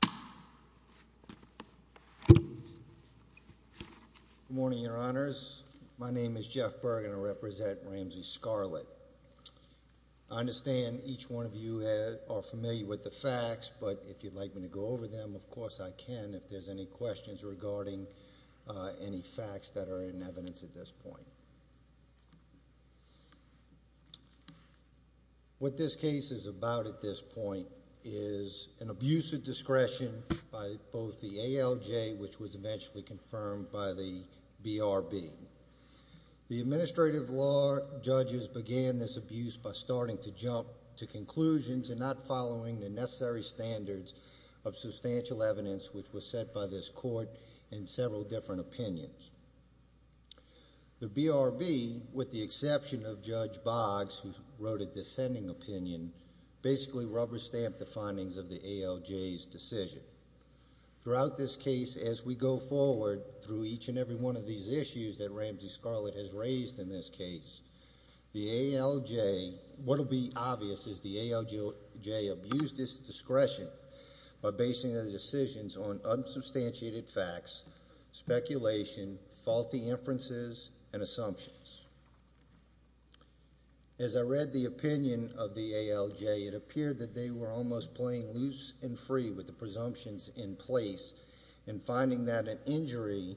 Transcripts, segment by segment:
Good morning, your honors. My name is Jeff Berg and I represent Ramsey Scarlett. I understand each one of you are familiar with the facts, but if you'd like me to go over them, of course I can if there's any questions regarding any facts that are in evidence at this point. What this case is about at this point is an abuse of discretion by both the ALJ, which was eventually confirmed by the BRB. The administrative law judges began this abuse by starting to jump to conclusions and not following the necessary standards of substantial evidence which was set by this court in several different opinions. The BRB, with the exception of Judge Boggs, who wrote a dissenting opinion, basically rubber-stamped the findings of the ALJ's decision. Throughout this case, as we go forward through each and every one of these issues that Ramsey Scarlett has raised in this case, what will be obvious is the ALJ abused its discretion by focusing their decisions on unsubstantiated facts, speculation, faulty inferences, and assumptions. As I read the opinion of the ALJ, it appeared that they were almost playing loose and free with the presumptions in place, and finding that an injury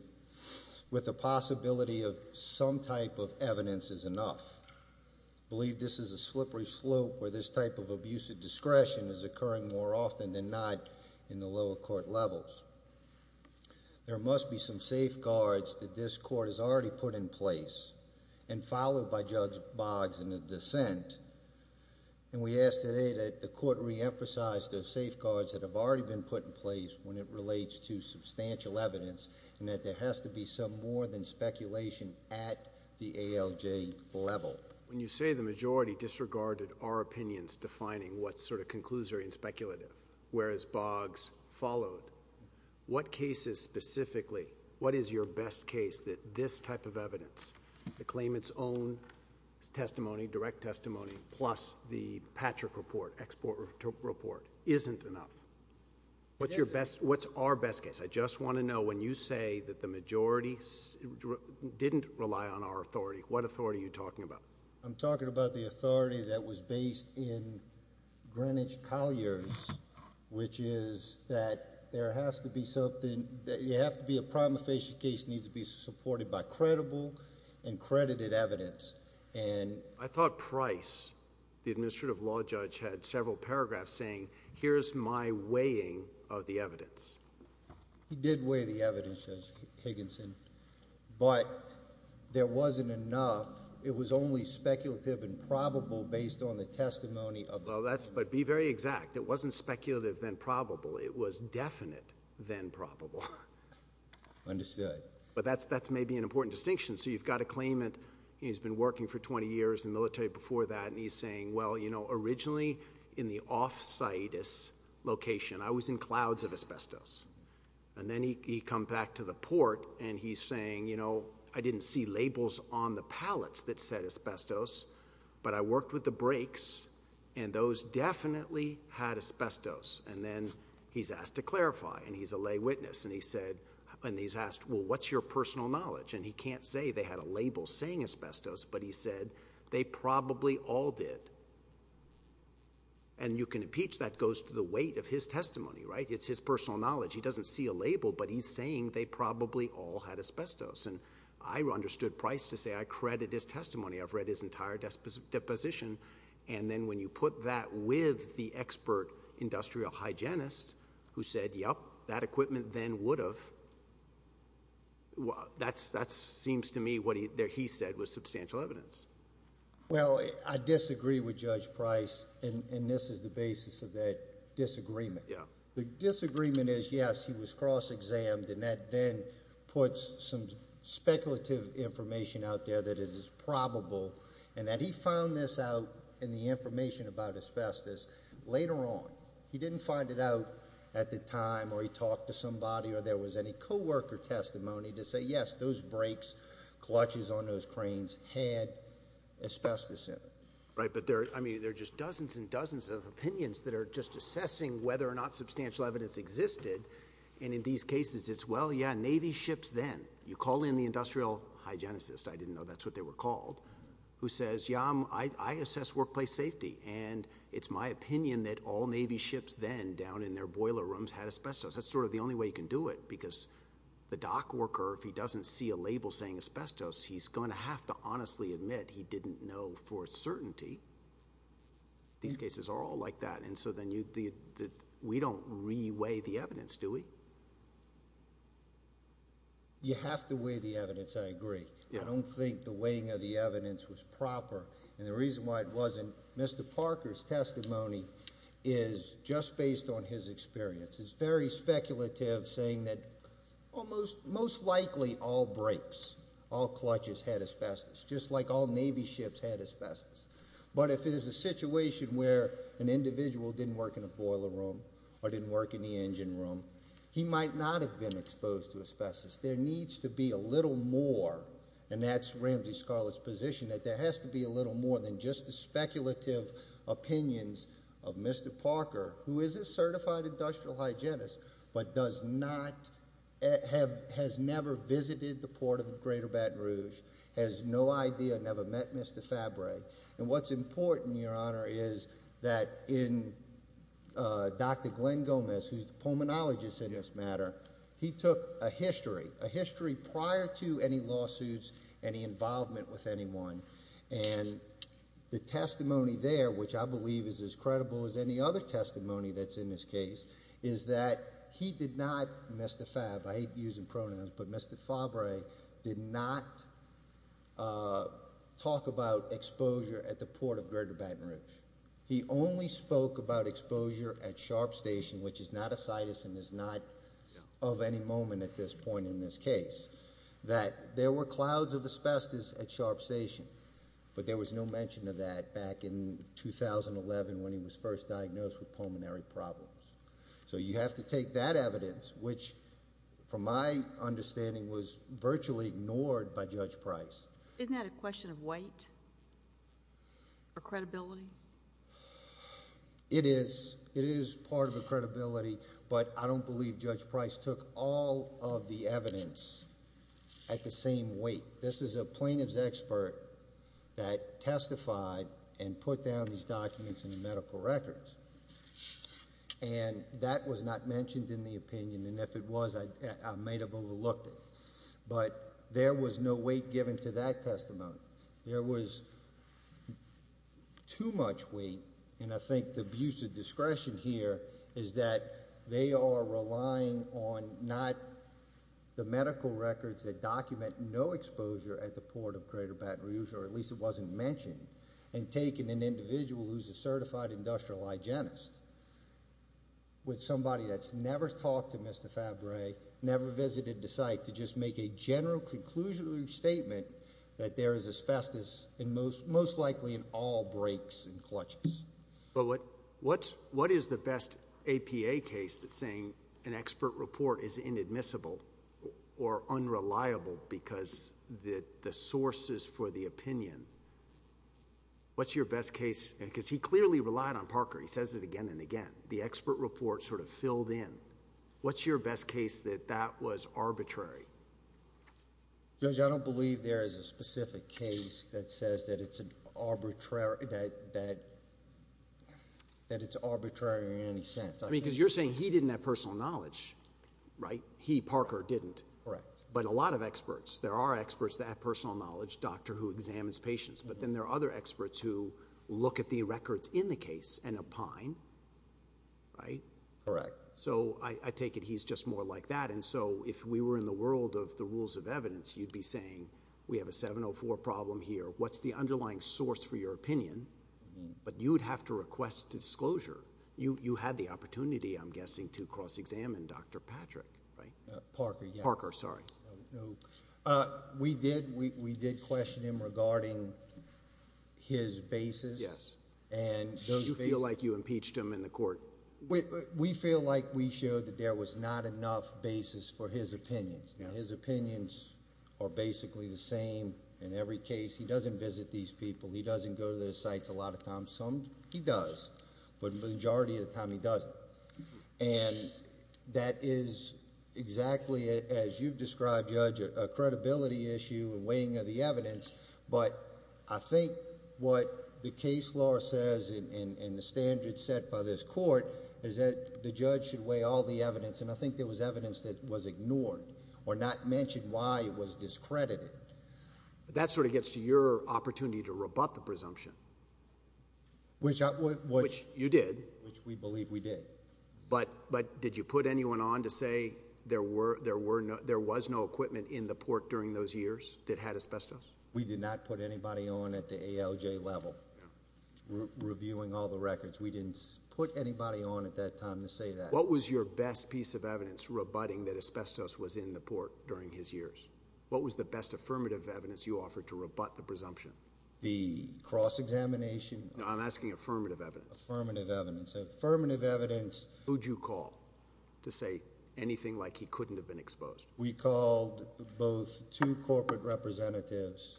with the possibility of some type of evidence is enough. I believe this is a slippery slope where this type of abuse of discretion is occurring more often than not in the lower court levels. There must be some safeguards that this court has already put in place, and followed by Judge Boggs in his dissent, and we ask today that the court reemphasize those safeguards that have already been put in place when it relates to substantial evidence, and that there has to be some more than speculation at the ALJ level. When you say the majority disregarded our opinions defining what's sort of conclusory and speculative, whereas Boggs followed, what cases specifically, what is your best case that this type of evidence, the claimant's own testimony, direct testimony, plus the Patrick report, export report, isn't enough? What's our best case? I just want to know when you say that the majority didn't rely on our authority, what authority are you talking about? I'm talking about the authority that was based in Greenwich-Colliers, which is that there has to be something, that you have to be a prima facie case needs to be supported by credible and credited evidence, and I thought Price, the administrative law judge, had several paragraphs saying here's my weighing of the evidence. He did weigh the evidence, Judge Higginson, but there wasn't enough. It was only speculative and probable based on the testimony of- Well, that's, but be very exact. It wasn't speculative, then probable. It was definite, then probable. Understood. But that's maybe an important distinction. So you've got a claimant, he's been working for 20 years in the military before that, and he's saying, well, you know, originally in the off-site location, I was in clouds of asbestos, and then he comes back to the port, and he's saying, you know, I didn't see labels on the pallets that said asbestos, but I worked with the breaks, and those definitely had asbestos, and then he's asked to clarify, and he's a lay witness, and he said, and he's asked, well, what's your personal knowledge, and he can't say they had a label saying asbestos, but he said they probably all did, and you can impeach. That goes to the weight of his testimony, right? It's his personal knowledge. He doesn't see a label, but he's saying they probably all had asbestos, and I understood Price to say I credit his testimony. I've read his entire deposition, and then when you put that with the expert industrial hygienist who said, yep, that equipment then would have, that seems to me what he said was substantial evidence. Well, I disagree with Judge Price, and this is the basis of that disagreement. The disagreement is, yes, he was cross-examined, and that then puts some speculative information out there that is probable, and that he found this out in the information about asbestos later on. He didn't find it out at the time, or he talked to somebody, or there was any co-worker testimony to say, yes, those breaks, clutches on those cranes had asbestos in them. Right, but there are just dozens and dozens of opinions that are just assessing whether or not substantial evidence existed, and in these cases, it's, well, yeah, Navy ships then. You call in the industrial hygienist. I didn't know that's what they were called, who says, yeah, I assess workplace safety, and it's my opinion that all Navy ships then down in their boiler rooms had asbestos. That's sort of the only way you can do it, because the dock worker, if he doesn't see a label saying asbestos, he's going to have to honestly admit he didn't know for certainty. These cases are all like that, and so then we don't re-weigh the evidence, do we? You have to weigh the evidence, I agree. I don't think the weighing of the evidence was proper, and the reason why it wasn't, Mr. Parker's testimony is just based on his experience. It's very speculative, saying that most likely all brakes, all clutches had asbestos, just like all Navy ships had asbestos, but if it is a situation where an individual didn't work in a boiler room or didn't work in the engine room, he might not have been exposed to asbestos. There needs to be a little more, and that's Ramsey Scarlett's position, that there has to be a little more than just the speculative opinions of Mr. Parker, who is a certified industrial hygienist, but does not, has never visited the port of the greater Baton Rouge, has no idea, never met Mr. Fabre, and what's important, Your Honor, is that in Dr. Glenn Gomez, who's the pulmonologist in this matter, he took a history, a history prior to any lawsuits, any involvement with anyone, and the testimony there, which I believe is as credible as any other testimony that's in this case, is that he did not, Mr. Fabre, I hate using pronouns, but Mr. Fabre did not talk about exposure at the port of greater Baton Rouge. He only spoke about exposure at Sharp Station, which is not a situs and is not of any moment at this point in this case, that there were clouds of asbestos at Sharp Station, but there was no mention of that back in 2011 when he was first diagnosed with pulmonary problems. So you have to take that evidence, which from my understanding was virtually ignored by Judge Price. Isn't that a question of weight or credibility? It is. It is part of the credibility, but I don't believe Judge Price took all of the evidence at the same weight. This is a plaintiff's expert that testified and put down these documents in the medical records, and that was not mentioned in the opinion, and if it was, I may have overlooked it, but there was no weight given to that testimony. There was too much weight, and I think the abuse of discretion here is that they are relying on not the medical records that document no exposure at the port of greater Baton Rouge, or at least it wasn't mentioned, and taking an individual who's a certified industrial hygienist with somebody that's never talked to Mr. Fabre, never visited the site, to just make a general conclusion or statement that there is asbestos, and most likely in all breaks and clutches. But what is the best APA case that's saying an expert report is inadmissible or unreliable because the sources for the opinion, what's your best case, because he clearly relied on Parker. He says it again and again. The expert report sort of filled in. What's your best case that that was arbitrary? Judge, I don't believe there is a specific case that says that it's arbitrary in any sense. I mean, because you're saying he didn't have personal knowledge, right? He, Parker, didn't. Correct. But a lot of experts, there are experts that have personal knowledge, doctor who examines patients, but then there are other experts who look at the records in the case and opine, right? Correct. So, I take it he's just more like that. And so, if we were in the world of the rules of evidence, you'd be saying, we have a 704 problem here. What's the underlying source for your opinion? But you would have to request disclosure. You had the opportunity, I'm guessing, to cross-examine Dr. Patrick, right? Parker, yeah. Parker, sorry. No. We did. We did question him regarding his basis. Yes. And those bases. Do you feel like you impeached him in the court? We feel like we showed that there was not enough basis for his opinions. Now, his opinions are basically the same in every case. He doesn't visit these people. He doesn't go to the sites a lot of times. Some, he does. But the majority of the time, he doesn't. And that is exactly, as you've described, Judge, a credibility issue and weighing of the evidence. But I think what the case law says and the standards set by this court is that the judge should weigh all the evidence. And I think there was evidence that was ignored or not mentioned why it was discredited. But that sort of gets to your opportunity to rebut the presumption. Which I would. Which you did. Which we believe we did. But did you put anyone on to say there was no equipment in the port during those years that had asbestos? We did not put anybody on at the ALJ level reviewing all the records. We didn't put anybody on at that time to say that. What was your best piece of evidence rebutting that asbestos was in the port during his years? What was the best affirmative evidence you offered to rebut the presumption? The cross-examination. No, I'm asking affirmative evidence. Affirmative evidence. Affirmative evidence. Who'd you call to say anything like he couldn't have been exposed? We called both two corporate representatives,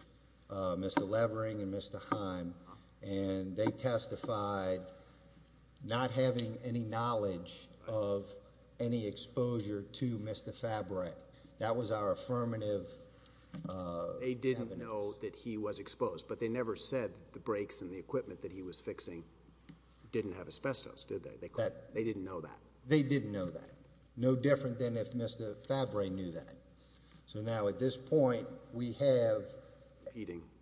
Mr. Levering and Mr. Heim. And they testified not having any knowledge of any exposure to Mr. Fabry. That was our affirmative evidence. They didn't know that he was exposed. But they never said the brakes and the equipment that he was fixing didn't have asbestos, did they? They didn't know that. They didn't know that. No different than if Mr. Fabry knew that. So now at this point, we have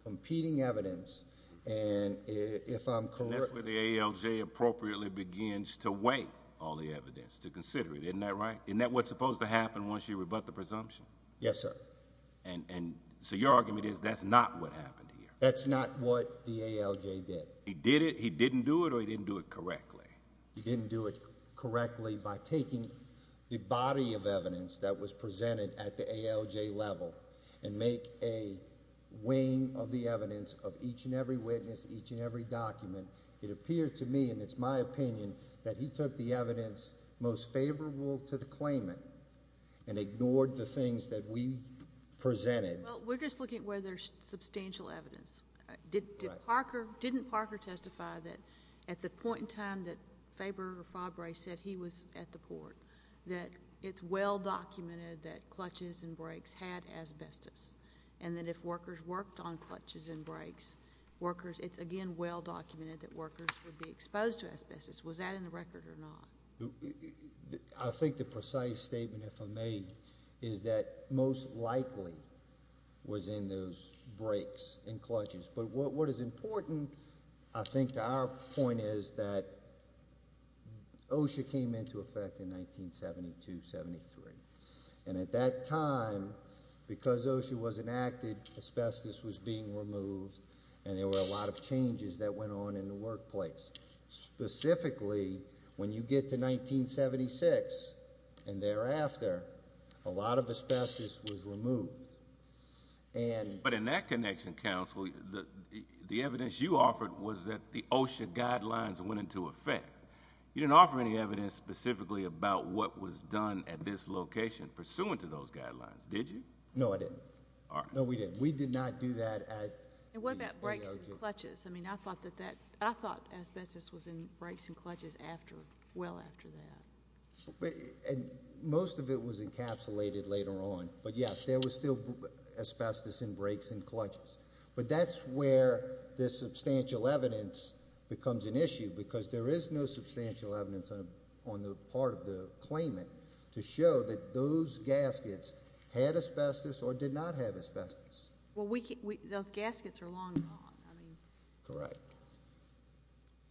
competing evidence. And if I'm correct... And that's where the ALJ appropriately begins to weigh all the evidence, to consider it. Isn't that right? Isn't that what's supposed to happen once you rebut the presumption? Yes, sir. And so your argument is that's not what happened here? That's not what the ALJ did. He did it, he didn't do it, or he didn't do it correctly? He didn't do it correctly by taking the body of evidence that was presented at the ALJ level and make a weighing of the evidence of each and every witness, each and every document. It appeared to me, and it's my opinion, that he took the evidence most favorable to the claimant and ignored the things that we presented. Well, we're just looking at whether there's substantial evidence. Didn't Parker testify that at the point in time that Fabry said he was at the port, that it's well-documented that clutches and brakes had asbestos, and that if workers worked on clutches and brakes, it's again well-documented that workers would be exposed to asbestos. Was that in the record or not? I think the precise statement, if I may, is that most likely was in those brakes and clutches. But what is important, I think, to our point is that OSHA came into effect in 1972-73. And at that time, because OSHA was enacted, asbestos was being removed, and there were a lot of changes that went on in the workplace. Specifically, when you get to 1976 and thereafter, a lot of asbestos was removed. But in that connection, counsel, the evidence you offered was that the OSHA guidelines went into effect. You didn't offer any evidence specifically about what was done at this location pursuant to those guidelines, did you? No, I didn't. No, we didn't. We did not do that. And what about brakes and clutches? I mean, I thought asbestos was in brakes and clutches well after that. And most of it was encapsulated later on. But yes, there was still asbestos in brakes and clutches. But that's where the substantial evidence becomes an issue, because there is no substantial evidence on the part of the claimant to show that those gaskets had asbestos or did not have asbestos. Well, those gaskets are long gone, I mean. Correct.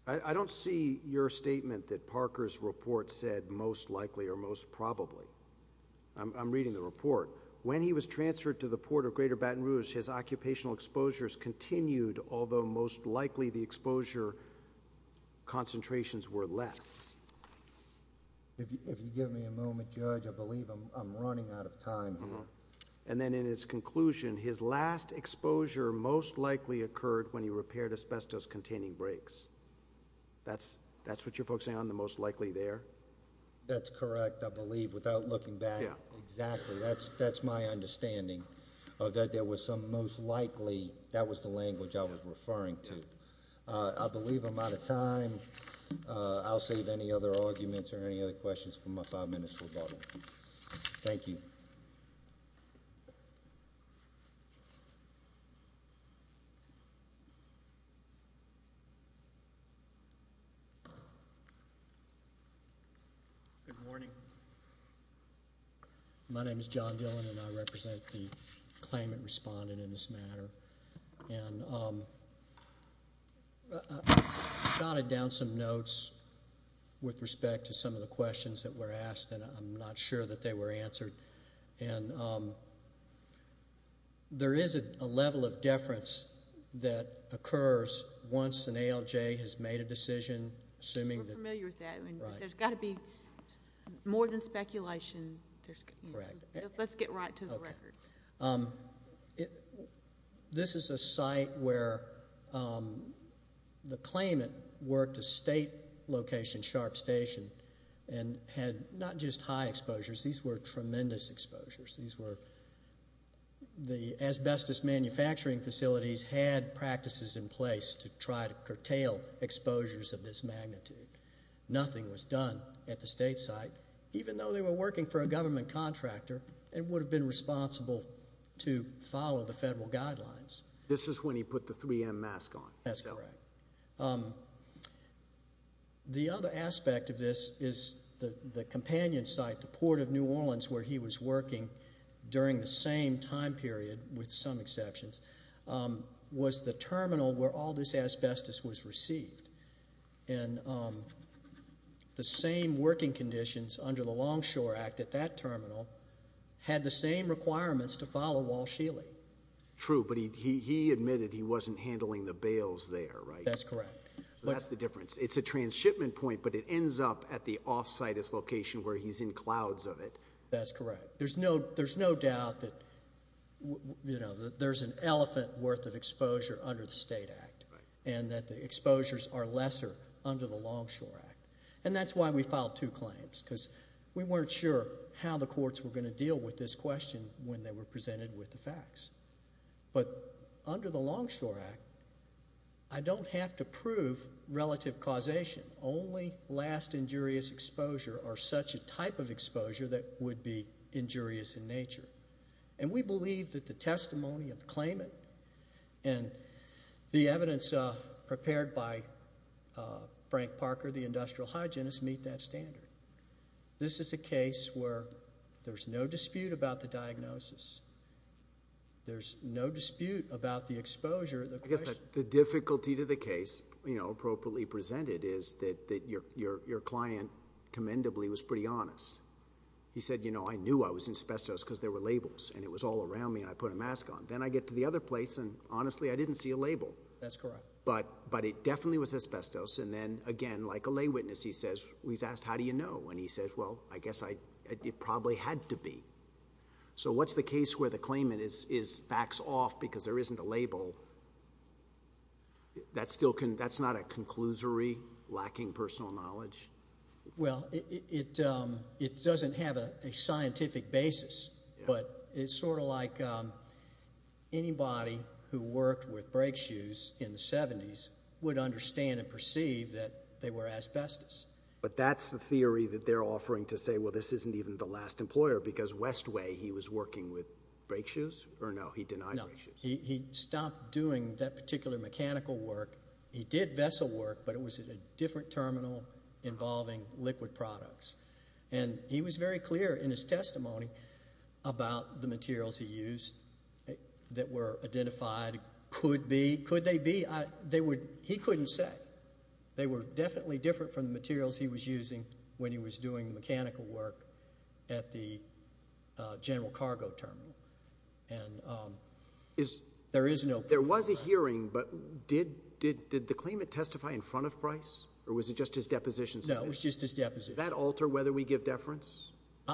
I don't see your statement that Parker's report said most likely or most probably. I'm reading the report. When he was transferred to the Port of Greater Baton Rouge, his occupational exposures continued, although most likely the exposure concentrations were less. If you give me a moment, Judge, I believe I'm running out of time. And then in his conclusion, his last exposure most likely occurred when he repaired asbestos-containing brakes. That's what you're focusing on, the most likely there? That's correct, I believe, without looking back. Exactly. That's my understanding, that there was some most likely. That was the language I was referring to. I believe I'm out of time. I'll save any other arguments or any other questions for my five minutes rebuttal. Thank you. Good morning. My name is John Dillon, and I represent the claimant respondent in this matter. And I jotted down some notes with respect to some of the questions that were asked, and I'm not sure that they were answered. And there is a level of deference that occurs once an ALJ has made a decision. We're familiar with that. There's got to be more than speculation. Let's get right to the record. This is a site where the claimant worked a state location, Sharp Station, and had not just high exposures, these were tremendous exposures. These were, the asbestos manufacturing facilities had practices in place to try to curtail exposures of this magnitude. Nothing was done at the state site. Even though they were working for a government contractor, it would have been responsible to follow the federal guidelines. This is when he put the 3M mask on. That's correct. The other aspect of this is the companion site, the Port of New Orleans, where he was working during the same time period, with some exceptions, was the terminal where all this asbestos was received. And the same working conditions under the Longshore Act at that terminal had the same requirements to follow Wall Scheele. True, but he admitted he wasn't handling the bales there, right? That's correct. So that's the difference. It's a transshipment point, but it ends up at the off-site location where he's in clouds of it. That's correct. There's no doubt that there's an elephant worth of exposure under the State Act, and that the exposures are lesser under the Longshore Act. And that's why we filed two claims, because we weren't sure how the courts were going to deal with this question when they were presented with the facts. But under the Longshore Act, I don't have to prove relative causation. Only last injurious exposure or such a type of exposure that would be injurious in nature. And we believe that the testimony of the claimant and the evidence prepared by Frank Parker, the industrial hygienist, meet that standard. This is a case where there's no dispute about the diagnosis. There's no dispute about the exposure. I guess the difficulty to the case, you know, appropriately presented is that your client commendably was pretty honest. He said, you know, I knew I was in asbestos because there were labels, and it was all around me, and I put a mask on. Then I get to the other place, and honestly, I didn't see a label. That's correct. But it definitely was asbestos, and then again, like a lay witness, he's asked, how do you know? And he says, well, I guess it probably had to be. So what's the case where the claimant backs off because there isn't a label? That's not a conclusory, lacking personal knowledge? Well, it doesn't have a scientific basis. But it's sort of like anybody who worked with brake shoes in the 70s would understand and perceive that they were asbestos. But that's the theory that they're offering to say, well, this isn't even the last employer because Westway, he was working with brake shoes? Or no, he denied brake shoes? No, he stopped doing that particular mechanical work. He did vessel work, but it was at a different terminal involving liquid products. And he was very clear in his testimony about the materials he used that were identified. Could be. Could they be? He couldn't say. They were definitely different from the materials he was using when he was doing mechanical work at the general cargo terminal. And there is no proof of that. There was a hearing, but did the claimant testify in front of Bryce? Or was it just his deposition? No, it was just his deposition. Does that alter whether we give deference?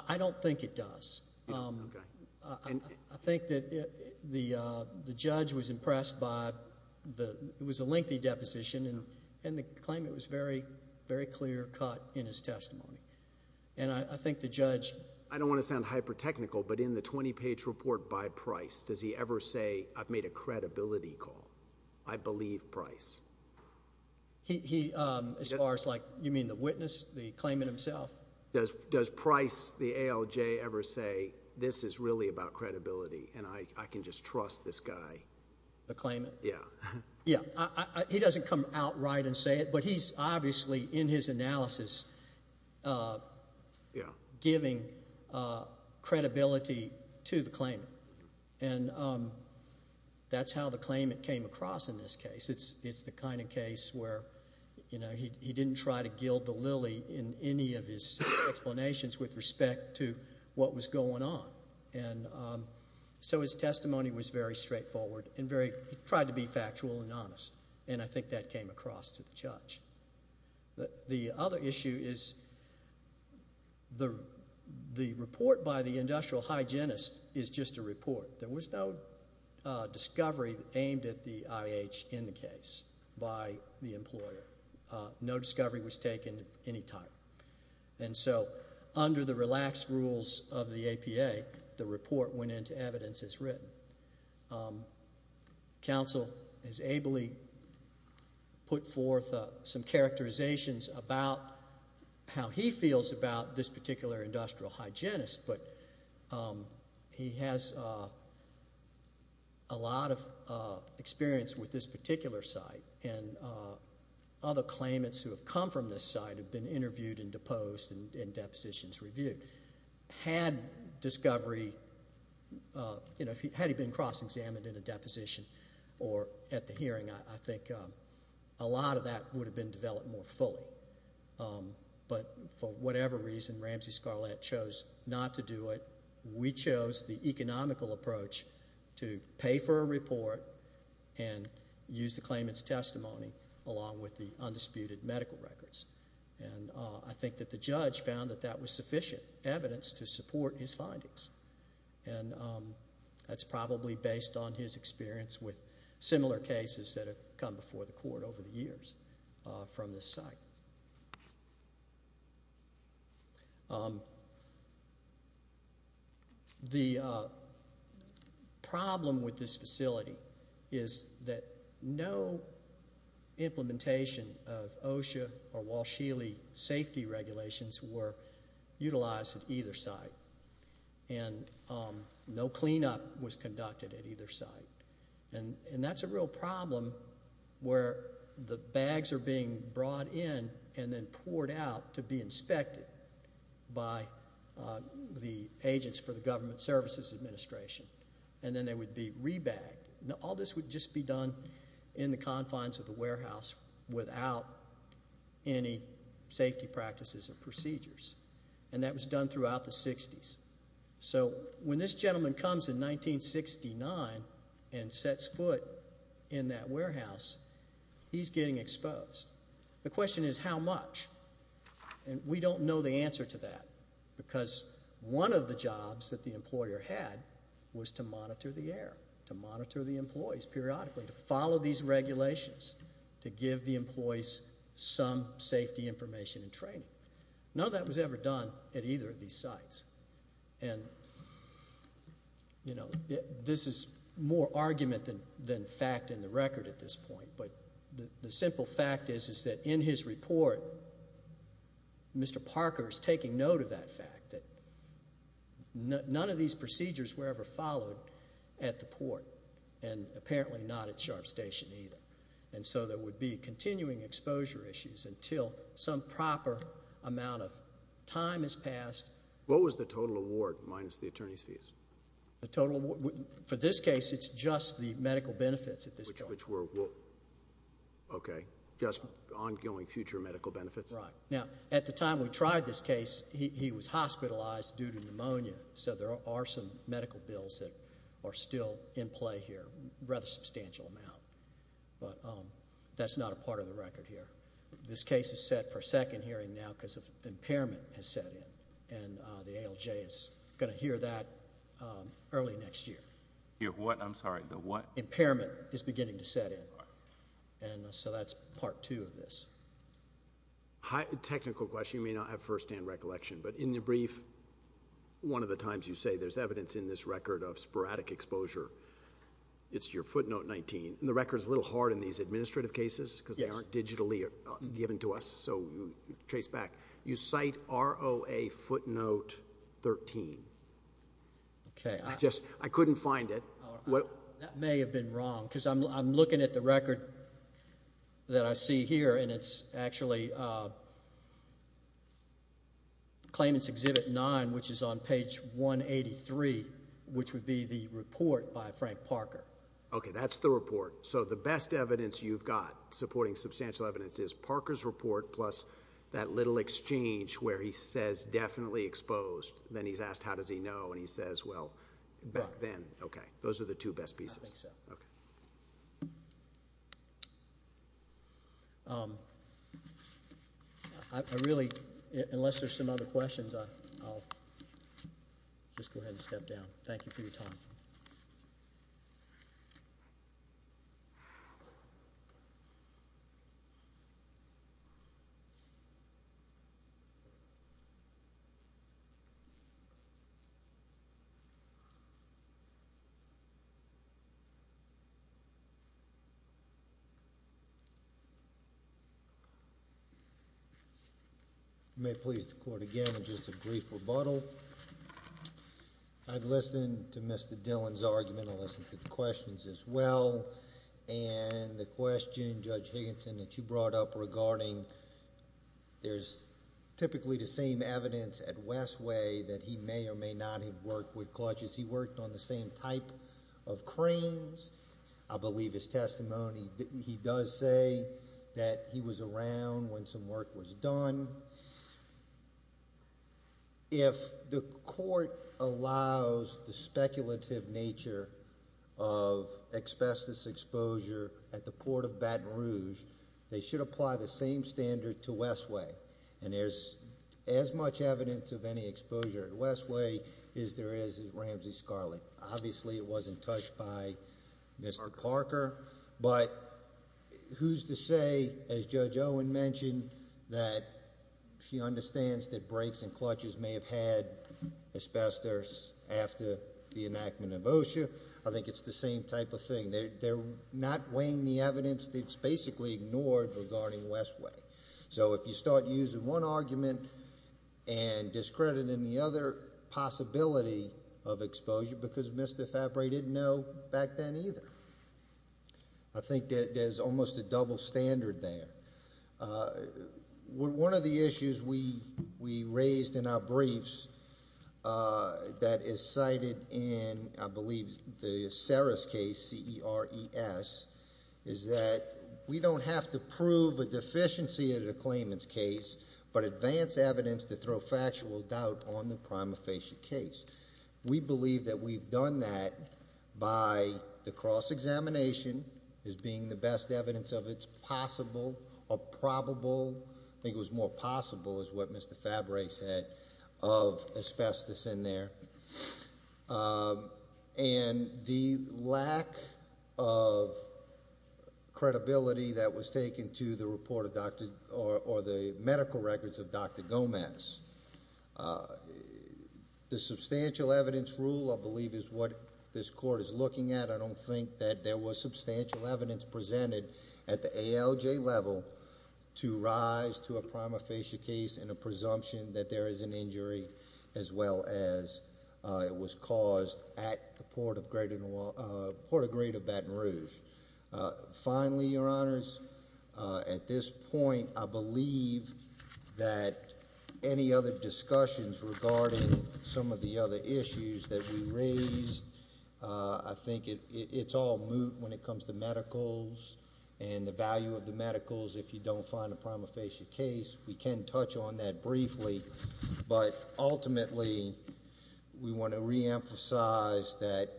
I don't think it does. I think that the judge was impressed by the... it was a lengthy deposition. And the claimant was very, very clear cut in his testimony. And I think the judge... I don't want to sound hyper-technical, but in the 20-page report by Bryce, does he ever say, I've made a credibility call? I believe Bryce. He, as far as like, you mean the witness, the claimant himself? Does Bryce, the ALJ, ever say, this is really about credibility, and I can just trust this guy? The claimant? Yeah. Yeah, he doesn't come out right and say it. But he's obviously, in his analysis, giving credibility to the claimant. And that's how the claimant came across in this case. It's the kind of case where, you know, he didn't try to gild the lily in any of his explanations with respect to what was going on. And so his testimony was very straightforward and very... he tried to be factual and honest. And I think that came across to the judge. The other issue is the report by the industrial hygienist is just a report. There was no discovery aimed at the IH in the case by the employer. No discovery was taken at any time. And so under the relaxed rules of the APA, the report went into evidence as written. Counsel has ably put forth some characterizations about how he feels about this particular industrial hygienist, but he has a lot of experience with this particular site. And other claimants who have come from this site have been interviewed and deposed and depositions reviewed. Had discovery... you know, had he been cross-examined in a deposition or at the hearing, I think a lot of that would have been developed more fully. But for whatever reason, Ramsey Scarlett chose not to do it. We chose the economical approach to pay for a report and use the claimant's testimony along with the undisputed medical records. And I think that the judge found that that was sufficient evidence to support his findings. And that's probably based on his experience with similar cases that have come before the court over the years from this site. The problem with this facility is that no implementation of OSHA or Walsh-Healy safety regulations were utilized at either site. And no cleanup was conducted at either site. And that's a real problem where the bags are being brought in and then poured out to be inspected by the Agents for the Government Services Administration. And then they would be re-bagged. Now, all this would just be done in the confines of the warehouse without any safety practices or procedures. And that was done throughout the 60s. So when this gentleman comes in 1969 and sets foot in that warehouse, he's getting exposed. The question is, how much? And we don't know the answer to that. Because one of the jobs that the employer had was to monitor the air, to monitor the employees periodically, to follow these regulations, to give the employees some safety information and training. None of that was ever done at either of these sites. And this is more argument than fact in the record at this point. But the simple fact is that in his report, Mr. Parker is taking note of that fact, that none of these procedures were ever followed at the port and apparently not at Sharp Station either. And so there would be continuing exposure issues until some proper amount of time has passed. What was the total award minus the attorney's fees? The total award, for this case, it's just the medical benefits at this point. Which were, okay, just ongoing future medical benefits? Right. Now, at the time we tried this case, he was hospitalized due to pneumonia. So there are some medical bills that are still in play here, rather substantial amount. But that's not a part of the record here. This case is set for second hearing now because of impairment has set in. And the ALJ is going to hear that early next year. Hear what? I'm sorry, the what? Impairment is beginning to set in. And so that's part two of this. Technical question. You may not have first-hand recollection. But in the brief, one of the times you say there's evidence in this record of sporadic exposure, it's your footnote 19. And the record's a little hard in these administrative cases because they aren't digitally given to us. So trace back. You cite ROA footnote 13. Okay. I just, I couldn't find it. That may have been wrong. Because I'm looking at the record that I see here. And it's actually claimant's exhibit 9, which is on page 183, which would be the report by Frank Parker. Okay, that's the report. So the best evidence you've got supporting substantial evidence is Parker's report, plus that little exchange where he says definitely exposed. Then he's asked how does he know. And he says, well, back then. Those are the two best pieces. I think so. Okay. I really, unless there's some other questions, I'll just go ahead and step down. Thank you for your time. Thank you. You may please the court again in just a brief rebuttal. I've listened to Mr. Dillon's argument. I listened to the questions as well. And the question, Judge Higginson, that you brought up regarding there's typically the same evidence at Westway that he may or may not have worked with clutches. He worked on the same type of cranes. I believe his testimony, he does say that he was around when some work was done. If the court allows the speculative nature of asbestos exposure at the Port of Baton Rouge, they should apply the same standard to Westway. And there's as much evidence of any exposure at Westway as there is at Ramsey Scarlet. Obviously, it wasn't touched by Mr. Parker. But who's to say, as Judge Owen mentioned, that she understands that brakes and clutches may have had asbestos after the enactment of OSHA. I think it's the same type of thing. They're not weighing the evidence that's basically ignored regarding Westway. So if you start using one argument and discrediting the other possibility of exposure, because Mr. Fabry didn't know back then either. I think that there's almost a double standard there. One of the issues we raised in our briefs that is cited in, I believe, the Saris case, C-E-R-E-S, is that we don't have to prove a deficiency of the claimant's case, but advance evidence to throw factual doubt on the prima facie case. We believe that we've done that by the cross-examination as being the best evidence of it's possible or probable. I think it was more possible, is what Mr. Fabry said, of asbestos in there. And the lack of credibility that was taken to the medical records of Dr. Gomez. The substantial evidence rule, I believe, is what this court is looking at. I don't think that there was substantial evidence presented at the ALJ level to rise to a prima facie case in a presumption that there is an injury, as well as it was caused at the Port of Greater Baton Rouge. Finally, your honors, at this point I believe that any other discussions regarding some of the other issues that we raised. I think it's all moot when it comes to medicals and the value of the medicals if you don't find a prima facie case. We can touch on that briefly. But ultimately, we want to reemphasize that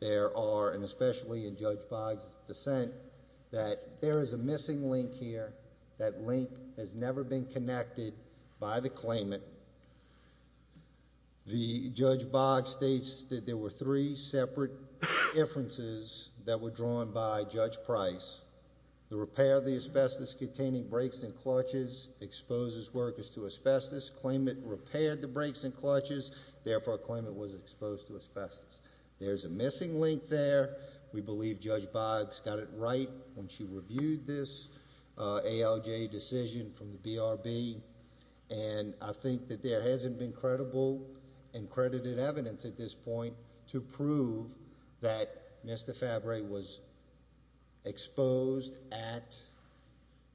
there are, and especially in Judge Boggs' dissent, that there is a missing link here. That link has never been connected by the claimant. The Judge Boggs states that there were three separate inferences that were drawn by Judge Price. The repair of the asbestos containing breaks and clutches exposes workers to asbestos. Claimant repaired the breaks and clutches, therefore a claimant was exposed to asbestos. There's a missing link there. We believe Judge Boggs got it right when she reviewed this ALJ decision from the BRB. And I think that there hasn't been credible and credited evidence at this point to prove that Mr. Fabry was exposed at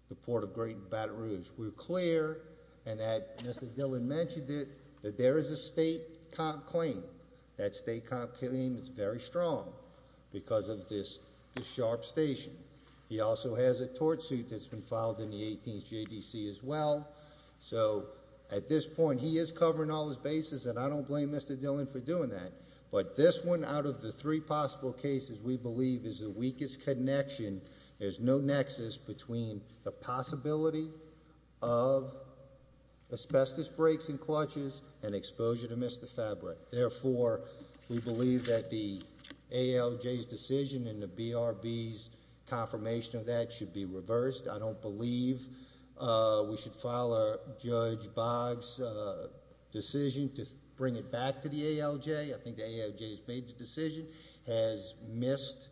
the Port of Great Baton Rouge. We're clear, and that Mr. Dillon mentioned it, that there is a state comp claim. That state comp claim is very strong because of this sharp station. He also has a tort suit that's been filed in the 18th JDC as well. So at this point, he is covering all his bases, and I don't blame Mr. Dillon for doing that. But this one, out of the three possible cases, we believe is the weakest connection. There's no nexus between the possibility of asbestos breaks and therefore we believe that the ALJ's decision and the BRB's confirmation of that should be reversed. I don't believe we should file a Judge Boggs decision to bring it back to the ALJ. I think the ALJ has made the decision, has missed-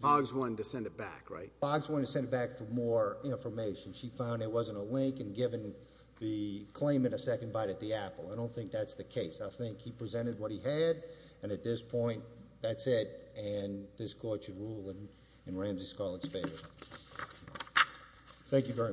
Boggs wanted to send it back, right? Boggs wanted to send it back for more information. She found there wasn't a link and given the claimant a second bite at the apple. I don't think that's the case. I think he presented what he had, and at this point, that's it. And this court should rule in Ramsey Scarlet's favor. Thank you very much.